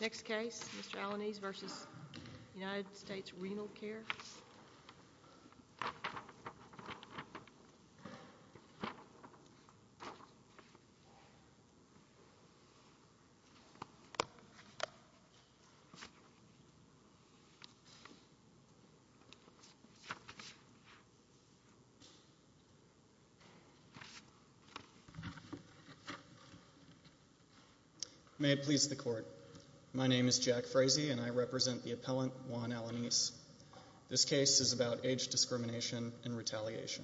Next case, Mr. Alaniz v. U.S. Renal Care, Incorporated Next case, Mr. Alaniz v. U.S. Renal Care, Incorporated May it please the court, my name is Jack Frazee and I represent the appellant Juan Alaniz. This case is about age discrimination and retaliation.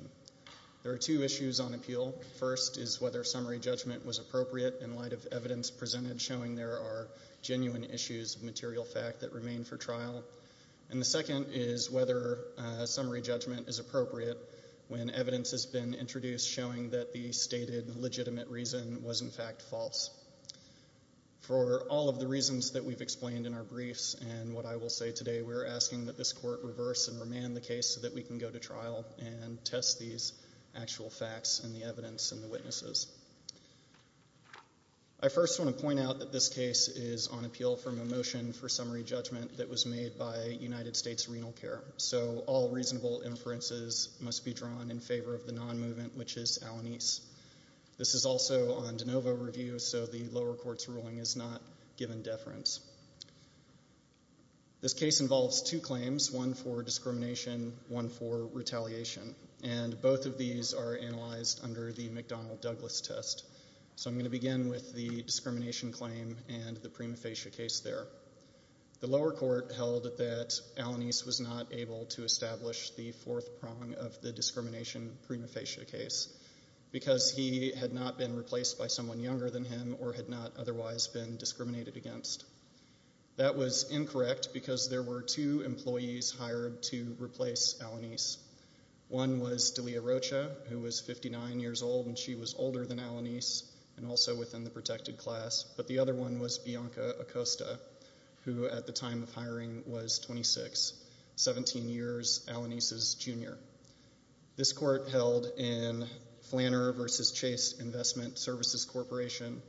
There are two issues on appeal. First is whether summary judgment was appropriate in light of evidence presented showing there are genuine issues of material fact that remain for trial. And the second is whether summary judgment is appropriate when evidence has been introduced showing that the stated legitimate reason was in fact false. For all of the reasons that we've explained in our briefs and what I will say today, we're asking that this court reverse and remand the case so that we can go to trial and test these actual facts and the evidence and the witnesses. I first want to point out that this case is on appeal from a motion for summary judgment that was made by United States Renal Care. So all reasonable inferences must be drawn in favor of the non-movement, which is Alaniz. This is also on de novo review, so the lower court's ruling is not given deference. This case involves two claims, one for discrimination, one for retaliation. And both of these are analyzed under the McDonnell Douglas test. So I'm going to begin with the discrimination claim and the prima facie case there. The lower court held that Alaniz was not able to establish the fourth prong of the discrimination prima facie case because he had not been replaced by someone younger than him or had not otherwise been discriminated against. That was incorrect because there were two employees hired to replace Alaniz. One was Delia Rocha, who was 59 years old and she was older than Alaniz and also within the protected class, but the other one was Bianca Acosta, who at the time of hiring was 26, 17 years Alaniz's junior. This court held in Flanner v. Chase Investment Services Corporation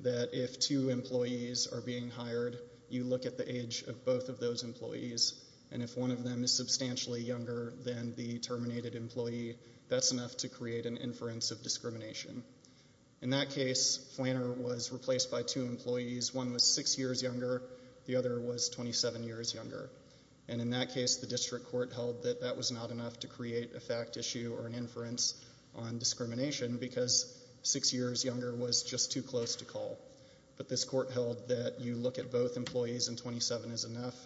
that if two employees are being hired, you look at the age of both of those employees and if one of them is substantially younger than the terminated employee, that's enough to create an inference of discrimination. In that case, Flanner was replaced by two employees. One was six years younger, the other was 27 years younger. And in that case, the district court held that that was not enough to create a fact issue or an inference on discrimination because six years younger was just too close to call. But this court held that you look at both employees and 27 is enough.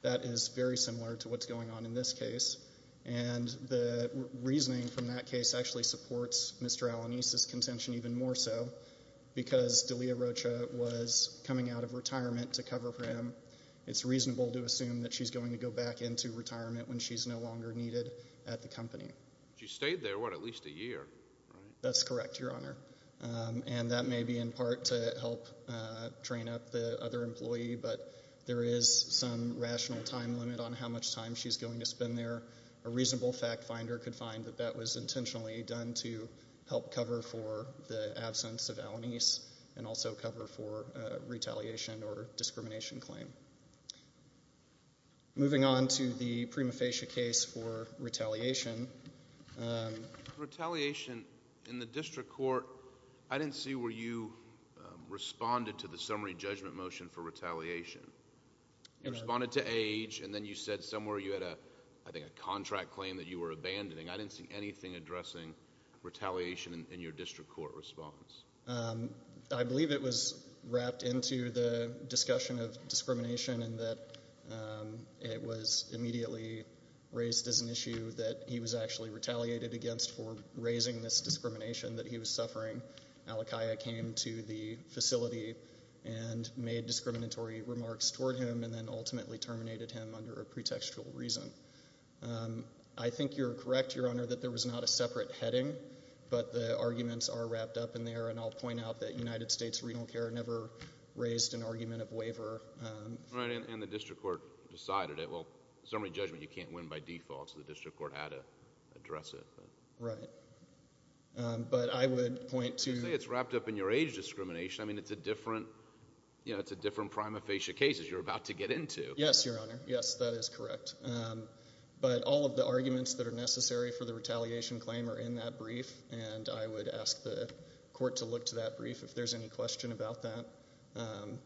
That is very similar to what's going on in this case. And the reasoning from that case actually supports Mr. Alaniz's contention even more so because Delia Rocha was coming out of retirement to cover for him. It's reasonable to assume that she's going to go back into work because she's no longer needed at the company. She stayed there, what, at least a year, right? That's correct, Your Honor. And that may be in part to help train up the other employee, but there is some rational time limit on how much time she's going to spend there. A reasonable fact finder could find that that was intentionally done to help cover for the absence of Alaniz and also cover for retaliation or discrimination claim. Moving on to the Prima Facie case for retaliation. Retaliation in the district court, I didn't see where you responded to the summary judgment motion for retaliation. You responded to age and then you said somewhere you had a, I think, a contract claim that you were abandoning. I didn't see anything addressing retaliation in your district court response. I believe it was wrapped into the discussion of discrimination and that it was immediately raised as an issue that he was actually retaliated against for raising this discrimination that he was suffering. Alakaya came to the facility and made discriminatory remarks toward him and then ultimately terminated him under a pretextual reason. I think you're correct, Your Honor, that there was not a separate heading, but the arguments are wrapped up in there. I'll point out that United States Renal Care never raised an argument of waiver. The district court decided it. Summary judgment, you can't win by default, so the district court had to address it. I would point to... You say it's wrapped up in your age discrimination. It's a different Prima Facie case that you're about to get into. Yes, Your Honor. Yes, that is correct. All of the arguments that are necessary for the court to look to that brief, if there's any question about that,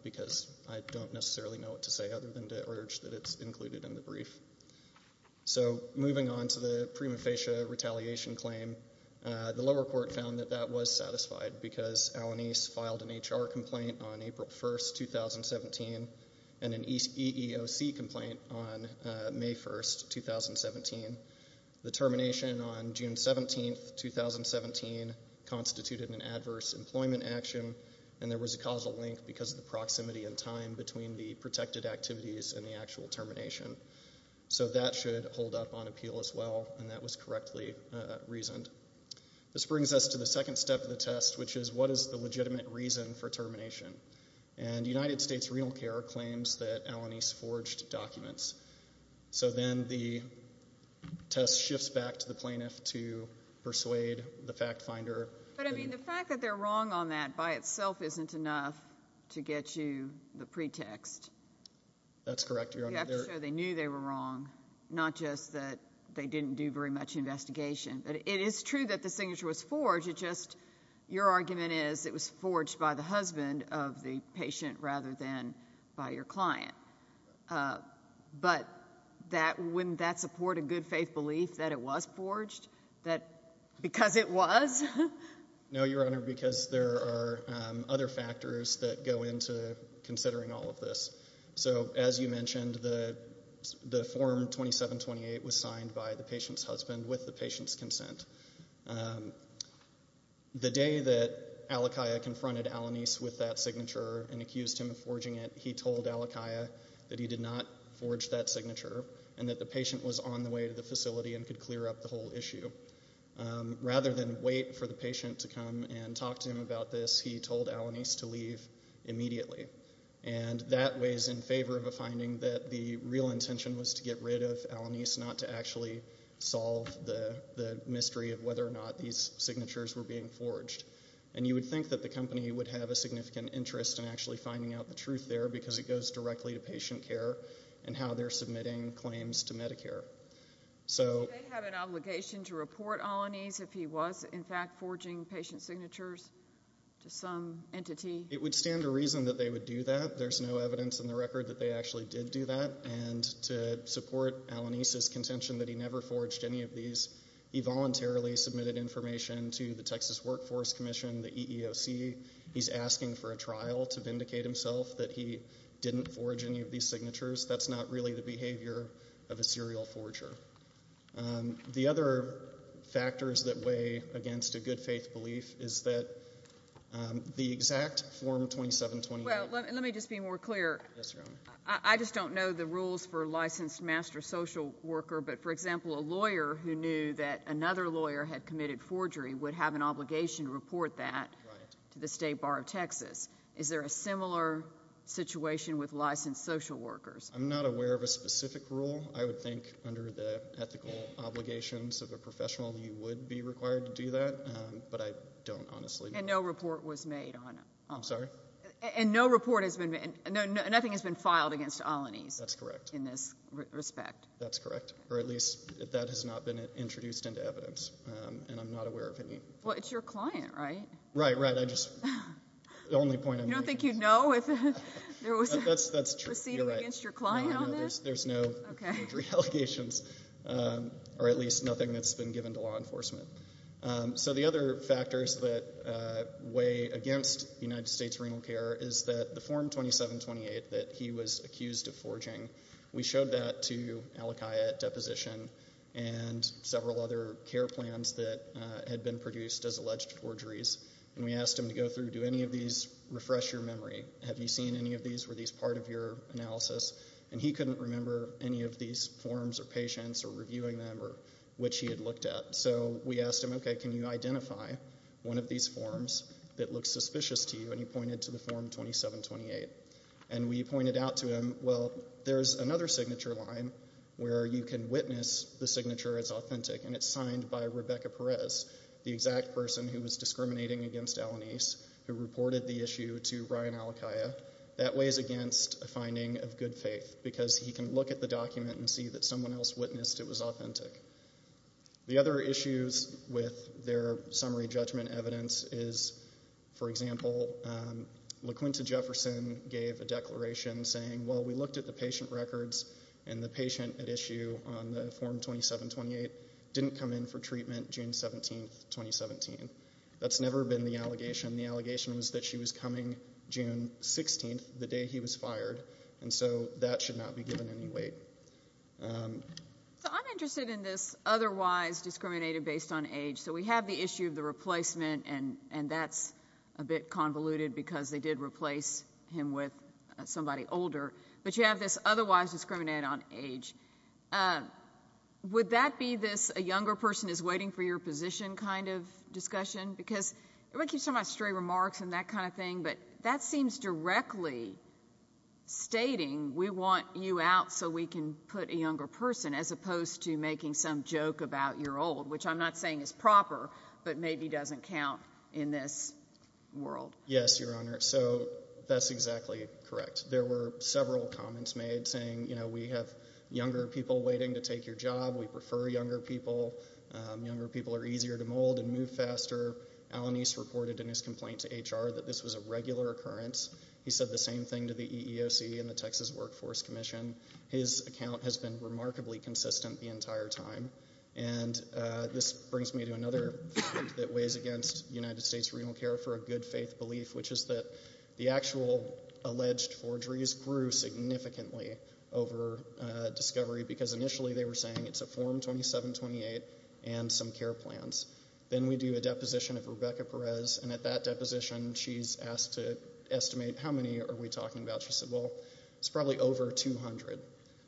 because I don't necessarily know what to say other than to urge that it's included in the brief. Moving on to the Prima Facie retaliation claim, the lower court found that that was satisfied because Alanis filed an HR complaint on April 1, 2017, and an EEOC complaint on May 1, 2017. The termination on June 17, 2017, constituted an adverse employment action, and there was a causal link because of the proximity in time between the protected activities and the actual termination. So that should hold up on appeal as well, and that was correctly reasoned. This brings us to the second step of the test, which is what is the legitimate reason for termination? And United States Renal Care claims that Alanis forged documents. So then the test shifts back to the plaintiff to persuade the fact finder. But I mean, the fact that they're wrong on that by itself isn't enough to get you the pretext. That's correct, Your Honor. You have to show they knew they were wrong, not just that they didn't do very much investigation. But it is true that the signature was forged. It just, your argument is it was forged by the husband of the patient rather than by your client. But wouldn't that support a good faith belief that it was forged? That because it was? No, Your Honor, because there are other factors that go into considering all of this. So as you mentioned, the form 2728 was signed by the patient's husband with the patient's consent. The day that Alakia confronted Alanis with that signature and accused him of forging it, he told Alakia that he did not forge that signature and that the patient was on the way to the facility and could clear up the whole issue. Rather than wait for the patient to come and talk to him about this, he told Alanis to leave immediately. And that weighs in favor of a history of whether or not these signatures were being forged. And you would think that the company would have a significant interest in actually finding out the truth there because it goes directly to patient care and how they're submitting claims to Medicare. So did they have an obligation to report Alanis if he was, in fact, forging patient signatures to some entity? It would stand to reason that they would do that. There's no evidence in the record that they actually did do that. And to support Alanis's contention that he never forged any of these signatures, he has not necessarily submitted information to the Texas Workforce Commission, the EEOC. He's asking for a trial to vindicate himself that he didn't forge any of these signatures. That's not really the behavior of a serial forger. The other factors that weigh against a good-faith belief is that the exact Form 2729 Well, let me just be more clear. I just don't know the rules for a licensed master social worker. But, for example, a lawyer who knew that another lawyer had committed forgery would have an obligation to report that to the state bar of Texas. Is there a similar situation with licensed social workers? I'm not aware of a specific rule. I would think under the ethical obligations of a professional, you would be required to do that. But I don't, honestly. And no report was made on it? I'm sorry? And no report has been made? Nothing has been filed against Alanis? That's correct. In this respect? That's correct. Or at least, that has not been introduced into evidence. And I'm not aware of any. Well, it's your client, right? Right, right. I just, the only point I'm making is You don't think you'd know if there was a That's true. Proceeding against your client on this? There's no forgery allegations, or at least nothing that's been given to law enforcement. So the other factors that weigh against United States renal care is that the Form 2728 that he was accused of forging, we showed that to Alakia at deposition and several other care plans that had been produced as alleged forgeries. And we asked him to go through, do any of these refresh your memory? Have you seen any of these? Were these part of your analysis? And he couldn't remember any of these forms or patients or reviewing them or which he had looked at. So we asked him, okay, can you identify one of these forms that looks suspicious to you? And he pointed to the Form 2728. And we pointed out to him, well, there's another signature line where you can witness the signature is authentic, and it's signed by Rebecca Perez, the exact person who was discriminating against Alanis, who reported the issue to Ryan Alakia. That weighs against a finding of good faith, because he can look at the document and see that someone else witnessed it was authentic. The other issues with their summary judgment evidence is, for example, LaQuinta Jefferson gave a declaration saying, well, we looked at the patient records, and the patient at issue on the Form 2728 didn't come in for treatment June 17, 2017. That's never been the allegation. The allegation was that she was coming June 16, the day he was fired. And so that should not be given any weight. So I'm interested in this otherwise discriminated based on age. So we have the issue of the replacement, and that's a bit convoluted, because they did replace him with somebody older. But you have this otherwise discriminated on age. Would that be this a younger person is waiting for your position kind of discussion? Because everybody keeps talking about stray remarks and that kind of thing, but that seems directly stating we want you out so we can put a younger person, as opposed to making some joke about your old, which I'm not saying is proper, but maybe doesn't count in this world. Yes, Your Honor. So that's exactly correct. There were several comments made saying, you know, we have younger people waiting to take your job. We prefer younger people. Younger people are easier to mold and move faster. Alanis reported in his complaint to HR that this was a regular occurrence. He said the same thing to the EEOC and the Texas Workforce Commission. His account has been remarkably consistent the entire time. And this brings me to another fact that weighs against United States renal care for a good faith belief, which is that the actual alleged forgeries grew significantly over discovery, because initially they were saying it's a Form 2728 and some care plans. Then we do a deposition of Rebecca Perez, and at that deposition, she's asked to estimate how many are we talking about? She said, well, it's probably over 200.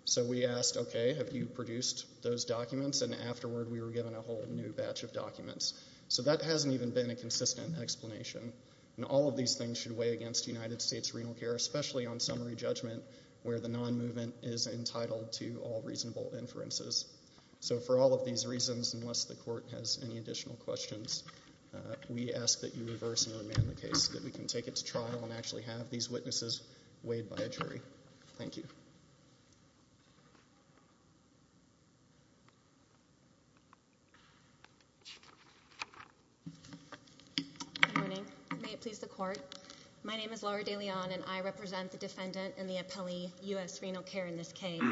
So we asked, OK, have you produced those documents? And afterward, we were given a whole new batch of documents. So that hasn't even been a consistent explanation. And all of these things should weigh against United States renal care, especially on summary judgment, where the non-movement is entitled to all reasonable inferences. So for all of these reasons, unless the court has any additional questions, we ask that you reverse and remand the case so that we can take it to trial and actually have these cases weighed by a jury. Thank you. Good morning. May it please the court. My name is Laura De Leon, and I represent the defendant in the appellee U.S. renal care in this case.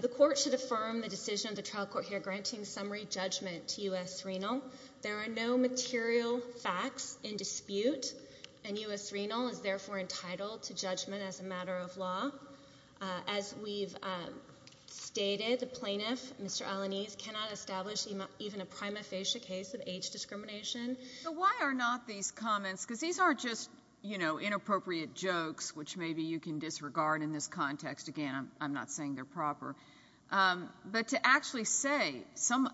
The court should affirm the decision of the trial court here granting summary judgment to U.S. renal. There are no material facts in dispute, and U.S. renal is therefore entitled to judgment as a matter of law. As we've stated, the plaintiff, Mr. Alaniz, cannot establish even a prima facie case of age discrimination. So why are not these comments, because these aren't just, you know, inappropriate jokes, which maybe you can disregard in this context. Again, I'm not saying they're proper. But to actually say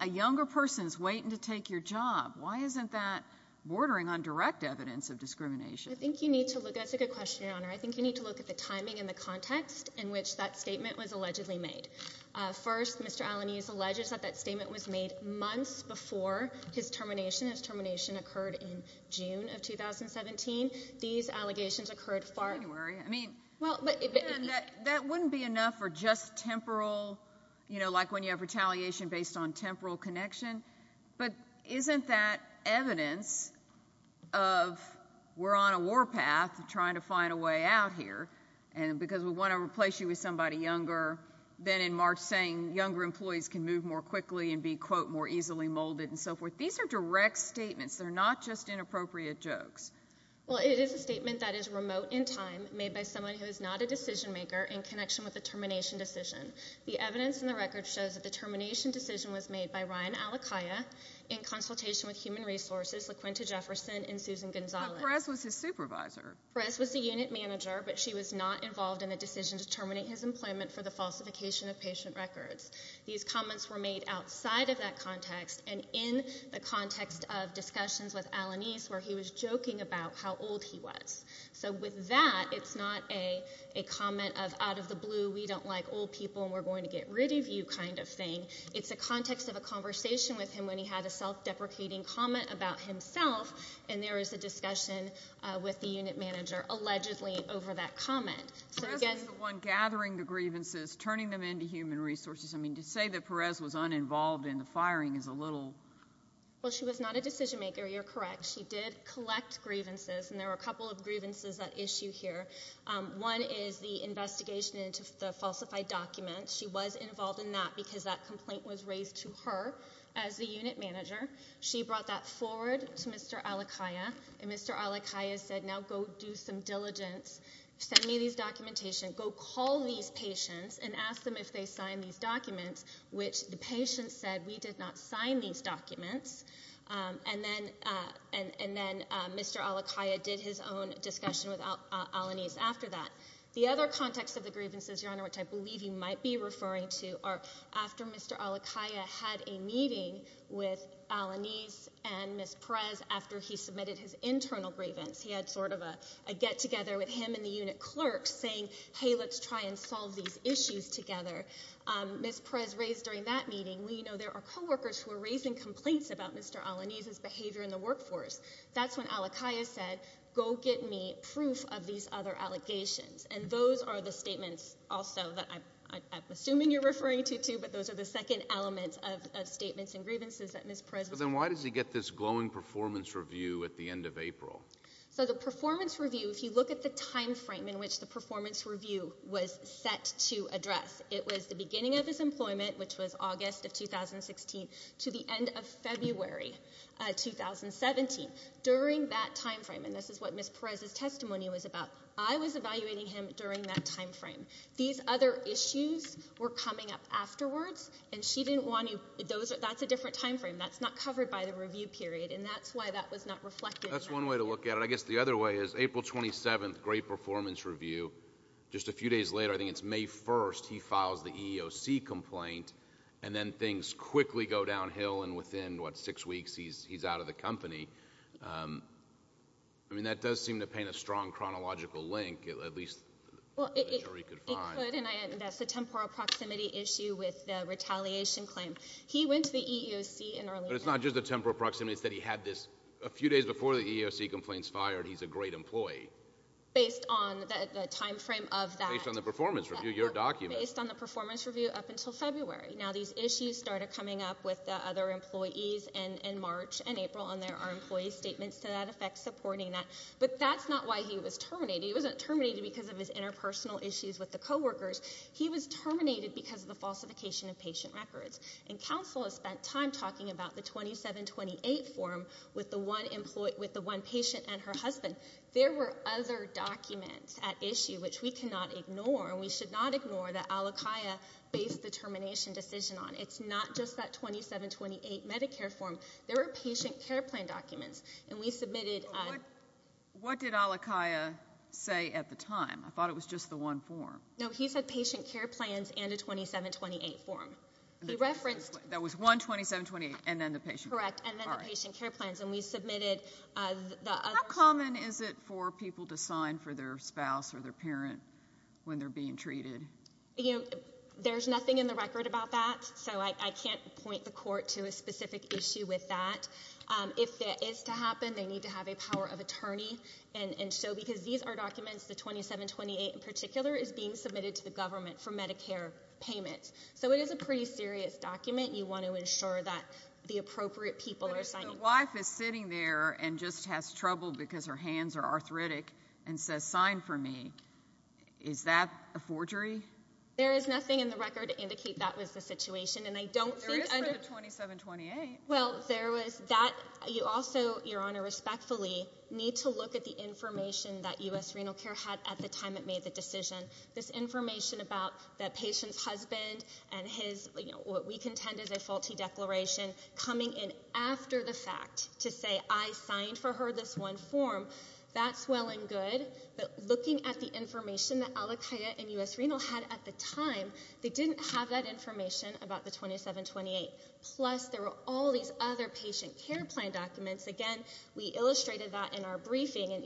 a younger person is waiting to take your job, why isn't that bordering on direct evidence of discrimination? I think you need to look at, that's a good question, Your Honor. I think you need to look at the timing and the context in which that statement was allegedly made. First, Mr. Alaniz alleges that that statement was made months before his termination. His termination occurred in June of 2017. These allegations occurred far. In January. I mean, that wouldn't be enough for just temporal, you know, like when you have retaliation based on temporal connection. But isn't that evidence of we're on a war path trying to find a way out here, and because we want to replace you with somebody younger, then in March saying younger employees can move more quickly and be, quote, more easily molded and so forth. These are direct statements. They're not just inappropriate jokes. Well, it is a statement that is remote in time, made by someone who is not a decision maker in connection with the termination decision. The evidence in the record shows that the termination decision was made by Ryan Alakaya in consultation with Human Resources, LaQuinta Jefferson, and Susan Gonzalez. But Perez was his supervisor. Perez was the unit manager, but she was not involved in the decision to terminate his employment for the falsification of patient records. These comments were made outside of that context and in the context of discussions with Alaniz where he was joking about how old he was. So with that, it's not a comment of out of the blue, we don't like old people and we're going to get rid of you kind of thing. It's a context of a conversation with him when he had a self-deprecating comment about himself, and there is a discussion with the unit manager, allegedly, over that comment. So, again— Perez was the one gathering the grievances, turning them into Human Resources. I mean, to say that Perez was uninvolved in the firing is a little— Well, she was not a decision maker. You're correct. She did collect grievances, and there were a couple of grievances at issue here. One is the investigation into the falsified documents. She was involved in that because that complaint was raised to her as the unit manager. She brought that forward to Mr. Alakaya, and Mr. Alakaya said, now go do some diligence. Send me these documentation. Go call these patients and ask them if they signed these documents, which the patients said we did not sign these documents, and then Mr. Alakaya did his own discussion with Alaniz after that. The other context of the grievances, Your Honor, which I believe you might be referring to, are after Mr. Alakaya had a meeting with Alaniz and Ms. Perez after he submitted his internal grievance. He had sort of a get-together with him and the unit clerk saying, hey, let's try and solve these issues together. Ms. Perez raised during that meeting, well, you know, there are co-workers who are raising complaints about Mr. Alaniz's behavior in the workforce. That's when Alakaya said, go get me proof of these other allegations, and those are the statements also that I'm assuming you're referring to, too, but those are the second elements of statements and grievances that Ms. Perez was- But then why does he get this glowing performance review at the end of April? So the performance review, if you look at the time frame in which the performance review was set to address, it was the beginning of his employment, which was August of 2016, to the end of February 2017. During that time frame, and this is what Ms. Perez's testimony was about, I was evaluating him during that time frame. These other issues were coming up afterwards, and she didn't want to- that's a different time frame. That's not covered by the review period, and that's why that was not reflected. That's one way to look at it. I guess the other way is April 27th, great performance review. Just a few days later, I think it's May 1st, he files the EEOC complaint, and then things quickly go downhill, and within, what, six weeks, he's out of the company. I mean, that does seem to paint a strong chronological link, at least the jury could find. It could, and that's a temporal proximity issue with the retaliation claim. He went to the EEOC in early- But it's not just a temporal proximity. It's that he had this a few days before the EEOC complaints fired. He's a great employee. Based on the time frame of that- Based on the performance review, your document. Based on the performance review up until February. Now, these issues started coming up with the other employees in March and April, and there are employee statements to that effect supporting that, but that's not why he was terminated. He wasn't terminated because of his interpersonal issues with the co-workers. He was terminated because of the falsification of patient records, and counsel has spent time talking about the 2728 form with the one patient and her husband. There were other documents at issue, which we cannot ignore, and we should not ignore, that Alakia based the termination decision on. It's not just that 2728 Medicare form. There were patient care plan documents, and we submitted- What did Alakia say at the time? I thought it was just the one form. No, he said patient care plans and a 2728 form. He referenced- That was one 2728, and then the patient- Correct, and then the patient care plans, and we submitted the other- How common is it for people to sign for their spouse or their parent when they're being treated? There's nothing in the record about that, so I can't point the court to a specific issue with that. If that is to happen, they need to have a power of attorney, and so because these are documents, the 2728 in particular is being submitted to the government for Medicare payments, so it is a pretty serious document. You want to ensure that the appropriate people are signing- The wife is sitting there and just has trouble because her hands are arthritic and says, sign for me. Is that a forgery? There is nothing in the record to indicate that was the situation, and I don't think- There is for the 2728. Well, there was that. You also, Your Honor, respectfully need to look at the information that US Renal Care had at the time it made the decision. This information about that patient's husband and his, what we contend is a faulty declaration coming in after the fact to say, I signed for her this one form. That's well and good, but looking at the information that Alakia and US Renal had at the time, they didn't have that information about the 2728. Plus, there were all these other patient care plan documents. Again, we illustrated that in our briefing, and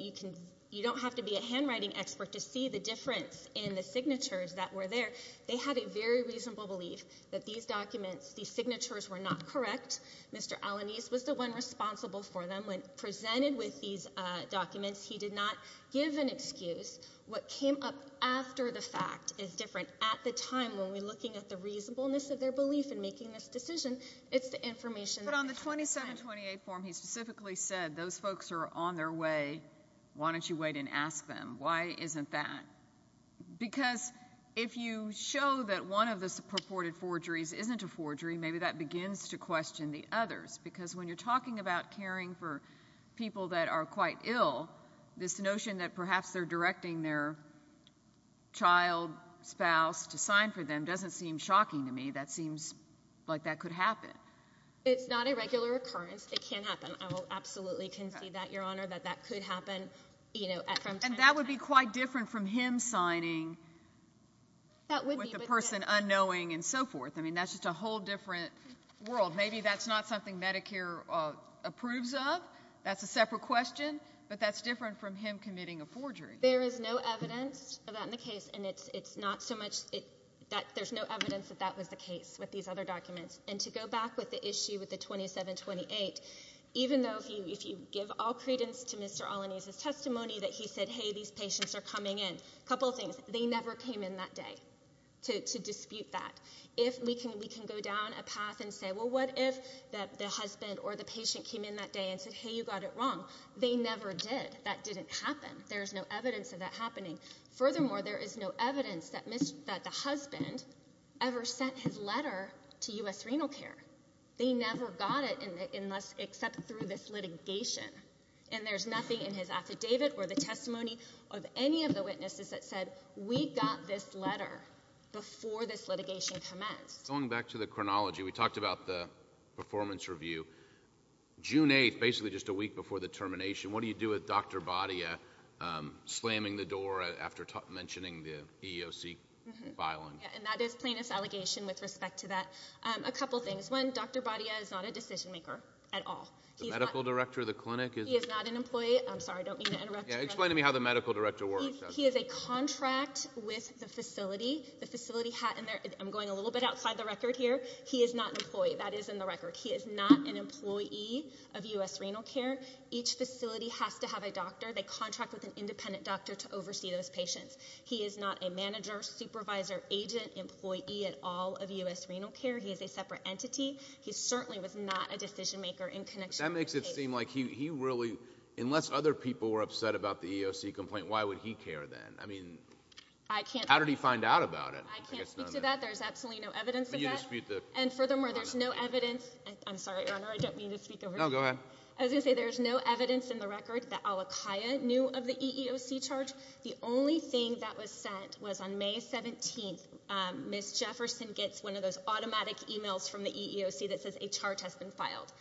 you don't have to be a handwriting expert to see the difference in the signatures that were there. They had a very reasonable belief that these documents, these signatures were not correct. Mr. Alanis was the one responsible for them. When presented with these documents, he did not give an excuse. What came up after the fact is different. At the time, when we're looking at the reasonableness of their belief in making this decision, it's the information- But on the 2728 form, he specifically said, those folks are on their way. Why don't you wait and ask them? Why isn't that? Because if you show that one of the purported forgeries isn't a forgery, maybe that begins to question the others. Because when you're talking about caring for people that are quite ill, this notion that perhaps they're directing their child, spouse, to sign for them doesn't seem shocking to me. That seems like that could happen. It's not a regular occurrence. It can happen. I will absolutely concede that, Your Honor, that that could happen from time to time. And that would be quite different from him signing with the person unknowing and so forth. I mean, that's just a whole different world. Maybe that's not something Medicare approves of. That's a separate question. But that's different from him committing a forgery. There is no evidence of that in the case. And it's not so much that there's no evidence that that was the case with these other documents. And to go back with the issue with the 2728, even though if you give all credence to Mr. Alaniz's testimony that he said, hey, these patients are coming in, a couple of things. They never came in that day to dispute that. If we can go down a path and say, well, what if the husband or the patient came in that day and said, hey, you got it wrong? They never did. That didn't happen. There's no evidence of that happening. Furthermore, there is no evidence that the husband ever sent his letter to U.S. Renal Care. They never got it except through this litigation. And there's nothing in his affidavit or the testimony of any of the witnesses that said, we got this letter before this litigation commenced. Going back to the chronology, we talked about the performance review. June 8th, basically just a week before the termination, what do you do with Dr. Badia slamming the door after mentioning the EEOC filing? And that is plaintiff's allegation with respect to that. A couple of things. One, Dr. Badia is not a decision maker at all. The medical director of the clinic is not an employee. I'm sorry. I don't mean to interrupt you. Explain to me how the medical director works. He is a contract with the facility. The facility, and I'm going a little bit outside the record here. He is not an employee. That is in the record. He is not an employee of U.S. Renal Care. Each facility has to have a doctor. They contract with an independent doctor to oversee those patients. He is not a manager, supervisor, agent, employee at all of U.S. Renal Care. He is a separate entity. He certainly was not a decision maker in connection with the case. But that makes it seem like he really, unless other people were upset about the EEOC complaint, why would he care then? I mean, how did he find out about it? I can't speak to that. There's absolutely no evidence of that. And furthermore, there's no evidence. I'm sorry, Your Honor. I don't mean to speak over you. No, go ahead. I was going to say there's no evidence in the record that Alakia knew of the EEOC charge. The only thing that was sent was on May 17th, Ms. Jefferson gets one of those automatic emails from the EEOC that says a charge has been filed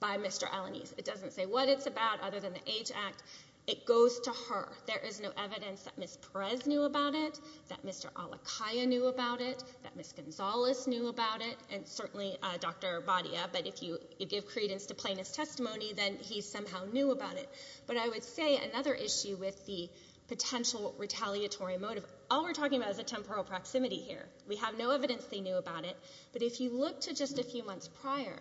by Mr. Alanis. It doesn't say what it's about, other than the AGE Act. It goes to her. There is no evidence that Ms. Perez knew about it, that Mr. Alakia knew about it, that Ms. Gonzalez knew about it, and certainly Dr. Badia. But if you give credence to plaintiff's testimony, then he somehow knew about it. But I would say another issue with the potential retaliatory motive, all we're talking about is a temporal proximity here. We have no evidence they knew about it. But if you look to just a few months prior,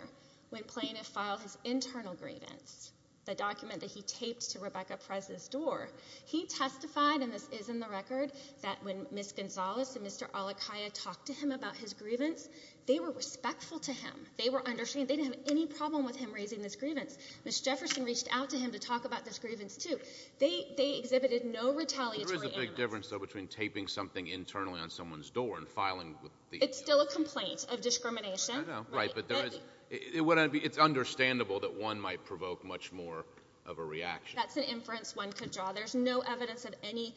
when plaintiff filed his internal grievance, the document that he taped to Rebecca Perez's door, he testified, and this is in the record, that when Ms. Gonzalez and Mr. Alakia talked to him about his grievance, they were respectful to him. They were understanding. They didn't have any problem with him raising this grievance. Ms. Jefferson reached out to him to talk about this grievance, too. They exhibited no retaliatory animus. But there is a big difference, though, between taping something internally on someone's door and filing with the— It's still a complaint of discrimination. I know, right. But there is—it's understandable that one might provoke much more of a reaction. That's an inference one could draw. There's no evidence of any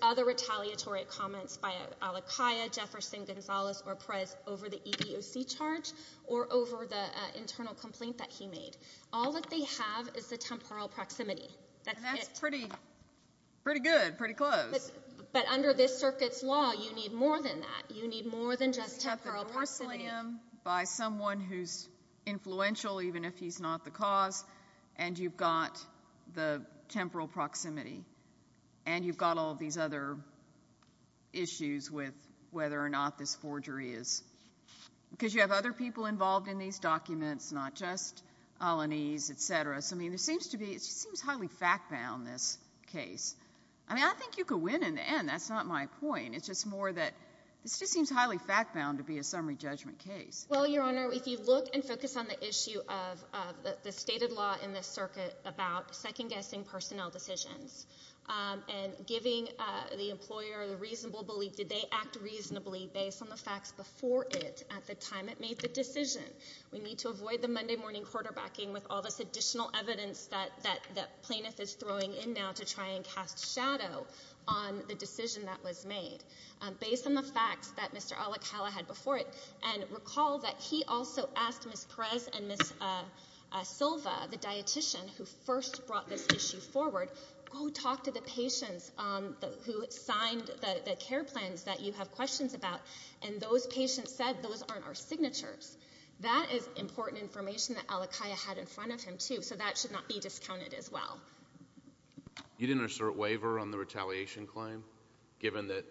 other retaliatory comments by Alakia, Jefferson, Gonzalez, or Perez over the EBOC charge or over the internal complaint that he made. All that they have is the temporal proximity. That's it. And that's pretty good, pretty close. But under this circuit's law, you need more than that. You need more than just temporal proximity. You've got the morsel in him by someone who's influential, even if he's not the cause, and you've got the temporal proximity. And you've got all these other issues with whether or not this forgery is— because you have other people involved in these documents, not just Alanis, et cetera. So, I mean, there seems to be—it just seems highly fact-bound, this case. I mean, I think you could win in the end. That's not my point. It's just more that this just seems highly fact-bound to be a summary judgment case. Well, Your Honor, if you look and focus on the issue of the stated law in this circuit about second-guessing personnel decisions and giving the employer the reasonable belief, did they act reasonably based on the facts before it at the time it made the decision? We need to avoid the Monday-morning quarterbacking with all this additional evidence that plaintiff is throwing in now to try and cast shadow on the decision that was made based on the facts that Mr. Alikhala had before it. And recall that he also asked Ms. Perez and Ms. Silva, the dietician who first brought this issue forward, go talk to the patients who signed the care plans that you have questions about. And those patients said, those aren't our signatures. That is important information that Alikhala had in front of him, too, so that should not be discounted as well. You didn't assert waiver on the retaliation claim, given that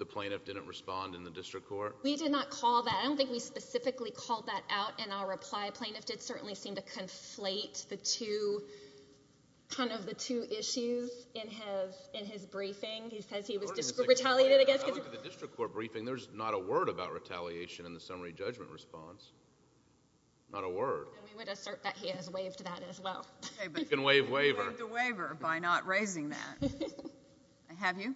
the plaintiff didn't respond in the district court? We did not call that. I don't think we specifically called that out in our reply. The plaintiff did certainly seem to conflate the two, kind of the two issues in his briefing. He says he was retaliated, I guess. I looked at the district court briefing. There's not a word about retaliation in the summary judgment response. Not a word. And we would assert that he has waived that as well. Okay, but you can waive waiver. You waived the waiver by not raising that. Have you?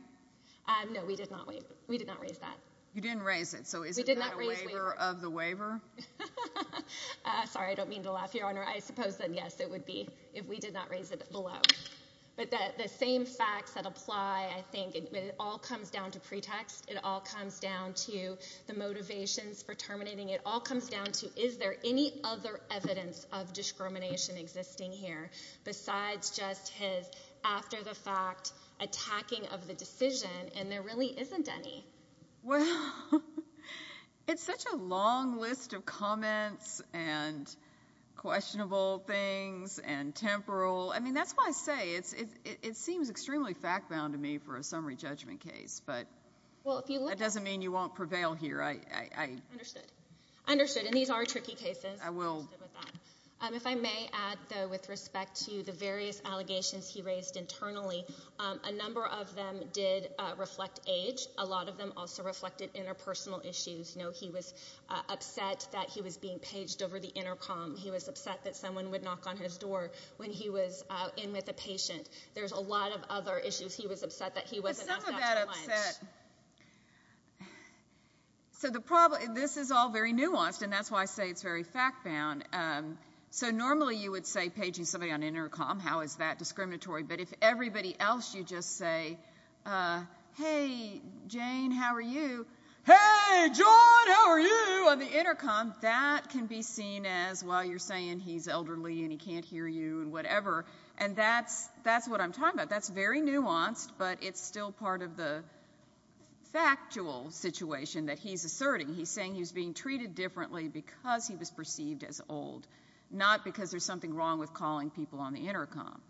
No, we did not waive. We did not raise that. You didn't raise it. So is it not a waiver of the waiver? I'm sorry, I don't mean to laugh, Your Honor. I suppose that, yes, it would be if we did not raise it below. But the same facts that apply, I think, it all comes down to pretext. It all comes down to the motivations for terminating. It all comes down to, is there any other evidence of discrimination existing here besides just his, after the fact, attacking of the decision? And there really isn't any. Well, it's such a long list of comments and questionable things and temporal. I mean, that's why I say it seems extremely fact-bound to me for a summary judgment case. But that doesn't mean you won't prevail here. I understood. I understood. And these are tricky cases. I will. If I may add, though, with respect to the various allegations he raised internally, a number of them did reflect age. A lot of them also reflected interpersonal issues. You know, he was upset that he was being paged over the intercom. He was upset that someone would knock on his door when he was in with a patient. There's a lot of other issues. He was upset that he wasn't asked out to lunch. But some of that upset. So the problem, this is all very nuanced, and that's why I say it's very fact-bound. So normally you would say paging somebody on intercom, how is that discriminatory? But if everybody else, you just say, hey, Jane, how are you? Hey, John, how are you on the intercom? That can be seen as, well, you're saying he's elderly and he can't hear you and whatever. And that's what I'm talking about. That's very nuanced, but it's still part of the factual situation that he's asserting. He's saying he was being treated differently because he was perceived as old, not because there's something wrong with calling people on the intercom.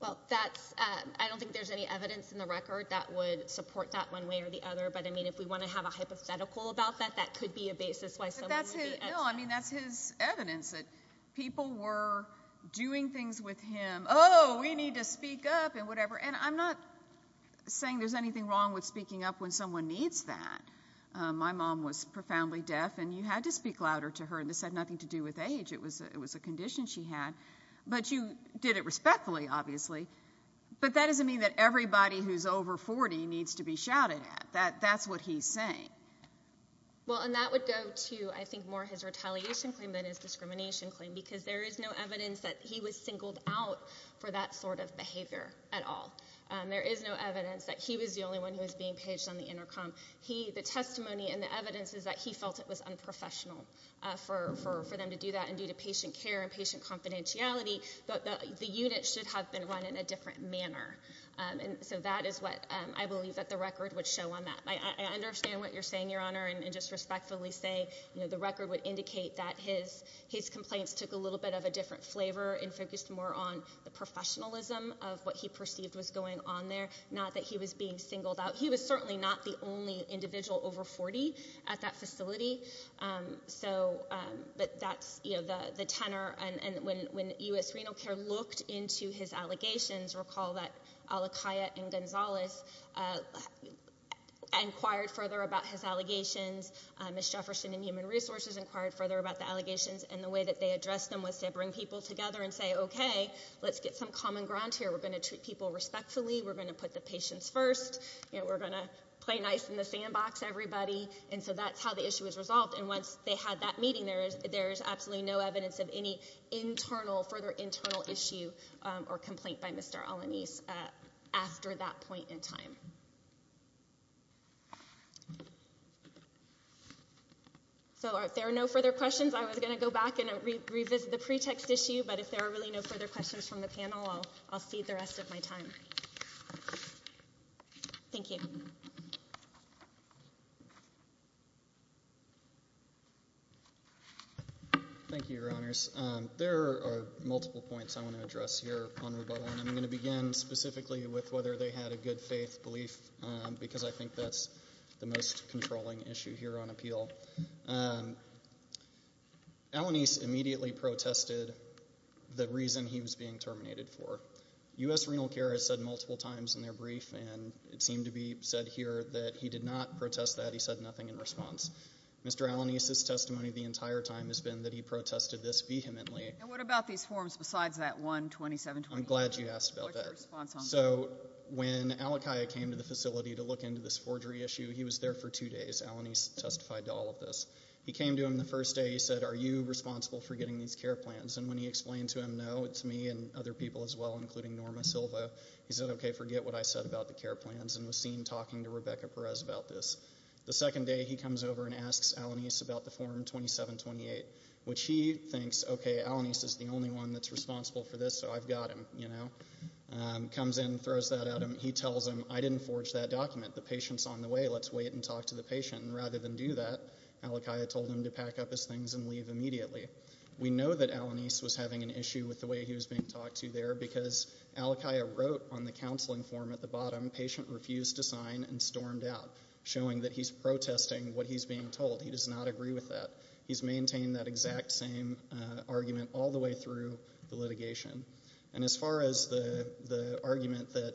Well, that's, I don't think there's any evidence in the record that would support that one way or the other, but I mean, if we want to have a hypothetical about that, that could be a basis why someone would be upset. No, I mean, that's his evidence that people were doing things with him. Oh, we need to speak up and whatever. And I'm not saying there's anything wrong with speaking up when someone needs that. My mom was profoundly deaf, and you had to speak louder to her. And this had nothing to do with age. It was a condition she had. But you did it respectfully, obviously. But that doesn't mean that everybody who's over 40 needs to be shouted at. That's what he's saying. Well, and that would go to, I think, more his retaliation claim than his discrimination claim because there is no evidence that he was singled out for that sort of behavior at all. There is no evidence that he was the only one who was being paged on the intercom. The testimony and the evidence is that he felt it was unprofessional for them to do that and due to patient care and patient confidentiality. But the unit should have been run in a different manner. And so that is what I believe that the record would show on that. I understand what you're saying, Your Honor, and just respectfully say the record would indicate that his complaints took a little bit of a different flavor and focused more on the professionalism of what he perceived was going on there, not that he was being singled out. He was certainly not the only individual over 40 at that facility. So but that's the tenor. And when U.S. Renal Care looked into his allegations, recall that Alakia and Gonzalez inquired further about his allegations. Ms. Jefferson and Human Resources inquired further about the allegations. And the way that they addressed them was to bring people together and say, OK, let's get some common ground here. We're going to treat people respectfully. We're going to put the patients first. We're going to play nice in the sandbox, everybody. And so that's how the issue is resolved. And once they had that meeting, there is there is absolutely no evidence of any internal further internal issue or complaint by Mr. Alanis after that point in time. So if there are no further questions, I was going to go back and revisit the pretext issue. But if there are really no further questions from the panel, I'll see the rest of my time. Thank you. Thank you, Your Honors. There are multiple points I want to address here on rebuttal, and I'm going to begin specifically with whether they had a good faith belief, because I think that's the most controlling issue here on appeal. Alanis immediately protested the reason he was being terminated for. U.S. Renal Care has said multiple times in their brief, and it seemed to be said here that he did not protest that. He said nothing in response. Mr. Alanis' testimony the entire time has been that he protested this vehemently. And what about these forms besides that 127? I'm glad you asked about that. So when Alakia came to the facility to look into this forgery issue, he was there for two days. Alanis testified to all of this. He came to him the first day. He said, are you responsible for getting these care plans? And when he explained to him, no, it's me and other people as well, including Norma Silva. He said, OK, forget what I said about the care plans and was seen talking to Rebecca Perez about this. The second day, he comes over and asks Alanis about the form 2728, which he thinks, OK, Alanis is the only one that's responsible for this, so I've got him, you know, comes in, throws that at him. He tells him, I didn't forge that document. The patient's on the way. Let's wait and talk to the patient. And rather than do that, Alakia told him to pack up his things and leave immediately. We know that Alanis was having an issue with the way he was being talked to there because Alakia wrote on the counseling form at the bottom, patient refused to sign and stormed out, showing that he's protesting what he's being told. He does not agree with that. He's maintained that exact same argument all the way through the litigation. And as far as the argument that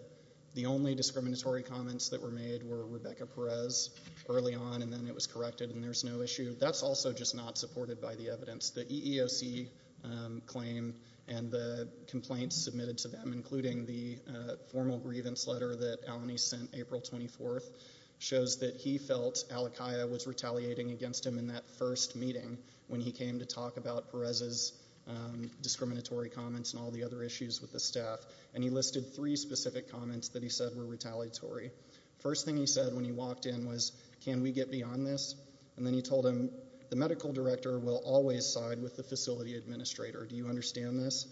the only discriminatory comments that were made were Rebecca Perez early on and then it was corrected and there's no issue, that's also just not supported by the evidence. The EEOC claim and the complaints submitted to them, including the formal grievance letter that Alanis sent April 24th, shows that he felt Alakia was retaliating against him in that first meeting when he came to talk about Perez's discriminatory comments and all the other issues with the staff. And he listed three specific comments that he said were retaliatory. First thing he said when he walked in was, can we get beyond this? And then he told him, the medical director will always side with the facility administrator. Do you understand this?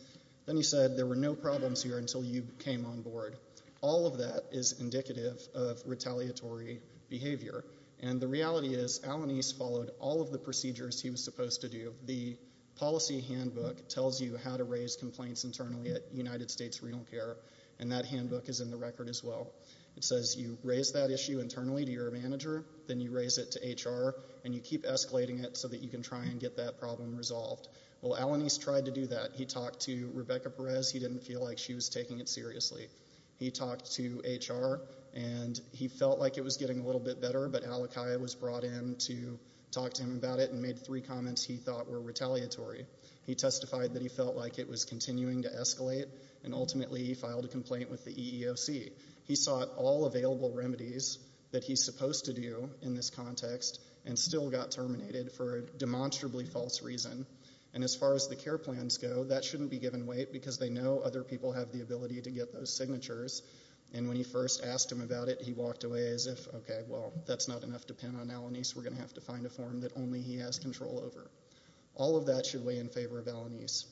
Then he said, there were no problems here until you came on board. All of that is indicative of retaliatory behavior. And the reality is Alanis followed all of the procedures he was supposed to do. The policy handbook tells you how to raise complaints internally at United States Renal Care and that handbook is in the record as well. It says you raise that issue internally to your manager, then you raise it to HR and you keep escalating it so that you can try and get that problem resolved. Well, Alanis tried to do that. He talked to Rebecca Perez. He didn't feel like she was taking it seriously. He talked to HR and he felt like it was getting a little bit better, but Alakia was brought in to talk to him about it and made three comments he thought were retaliatory. He testified that he felt like it was continuing to escalate and ultimately he filed a complaint with the EEOC. He sought all available remedies that he's supposed to do in this context and still got terminated for a demonstrably false reason. And as far as the care plans go, that shouldn't be given weight because they know other people have the ability to get those signatures and when he first asked him about it, he walked away as if, okay, well, that's not enough to pin on Alanis. We're going to have to find a form that only he has control over. All of that should weigh in favor of Alanis,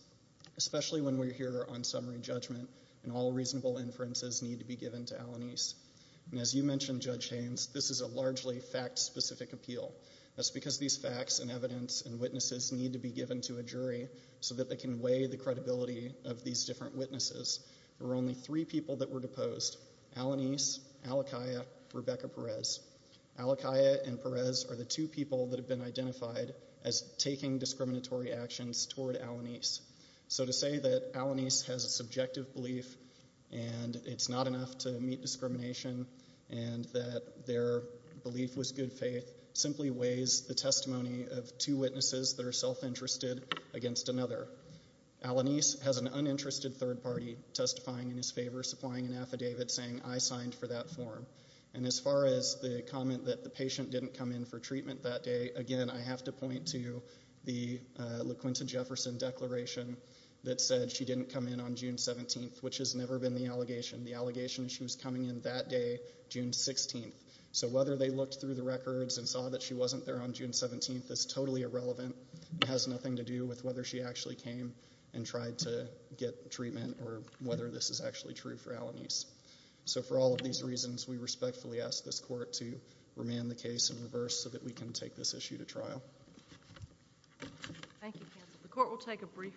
especially when we're here on summary judgment and all reasonable inferences need to be given to Alanis. And as you mentioned, Judge Haynes, this is a largely fact-specific appeal. That's because these facts and evidence and witnesses need to be given to a jury so that can weigh the credibility of these different witnesses. There were only three people that were deposed, Alanis, Alakia, Rebecca Perez. Alakia and Perez are the two people that have been identified as taking discriminatory actions toward Alanis. So to say that Alanis has a subjective belief and it's not enough to meet discrimination and that their belief was good faith simply weighs the testimony of two witnesses that Alanis has an uninterested third party testifying in his favor, supplying an affidavit saying, I signed for that form. And as far as the comment that the patient didn't come in for treatment that day, again, I have to point to the LaQuinta Jefferson declaration that said she didn't come in on June 17th, which has never been the allegation. The allegation is she was coming in that day, June 16th. So whether they looked through the records and saw that she wasn't there on June 17th is totally irrelevant. It has nothing to do with whether she actually came and tried to get treatment or whether this is actually true for Alanis. So for all of these reasons, we respectfully ask this court to remand the case in reverse so that we can take this issue to trial. Thank you, counsel. The court will take a brief recess.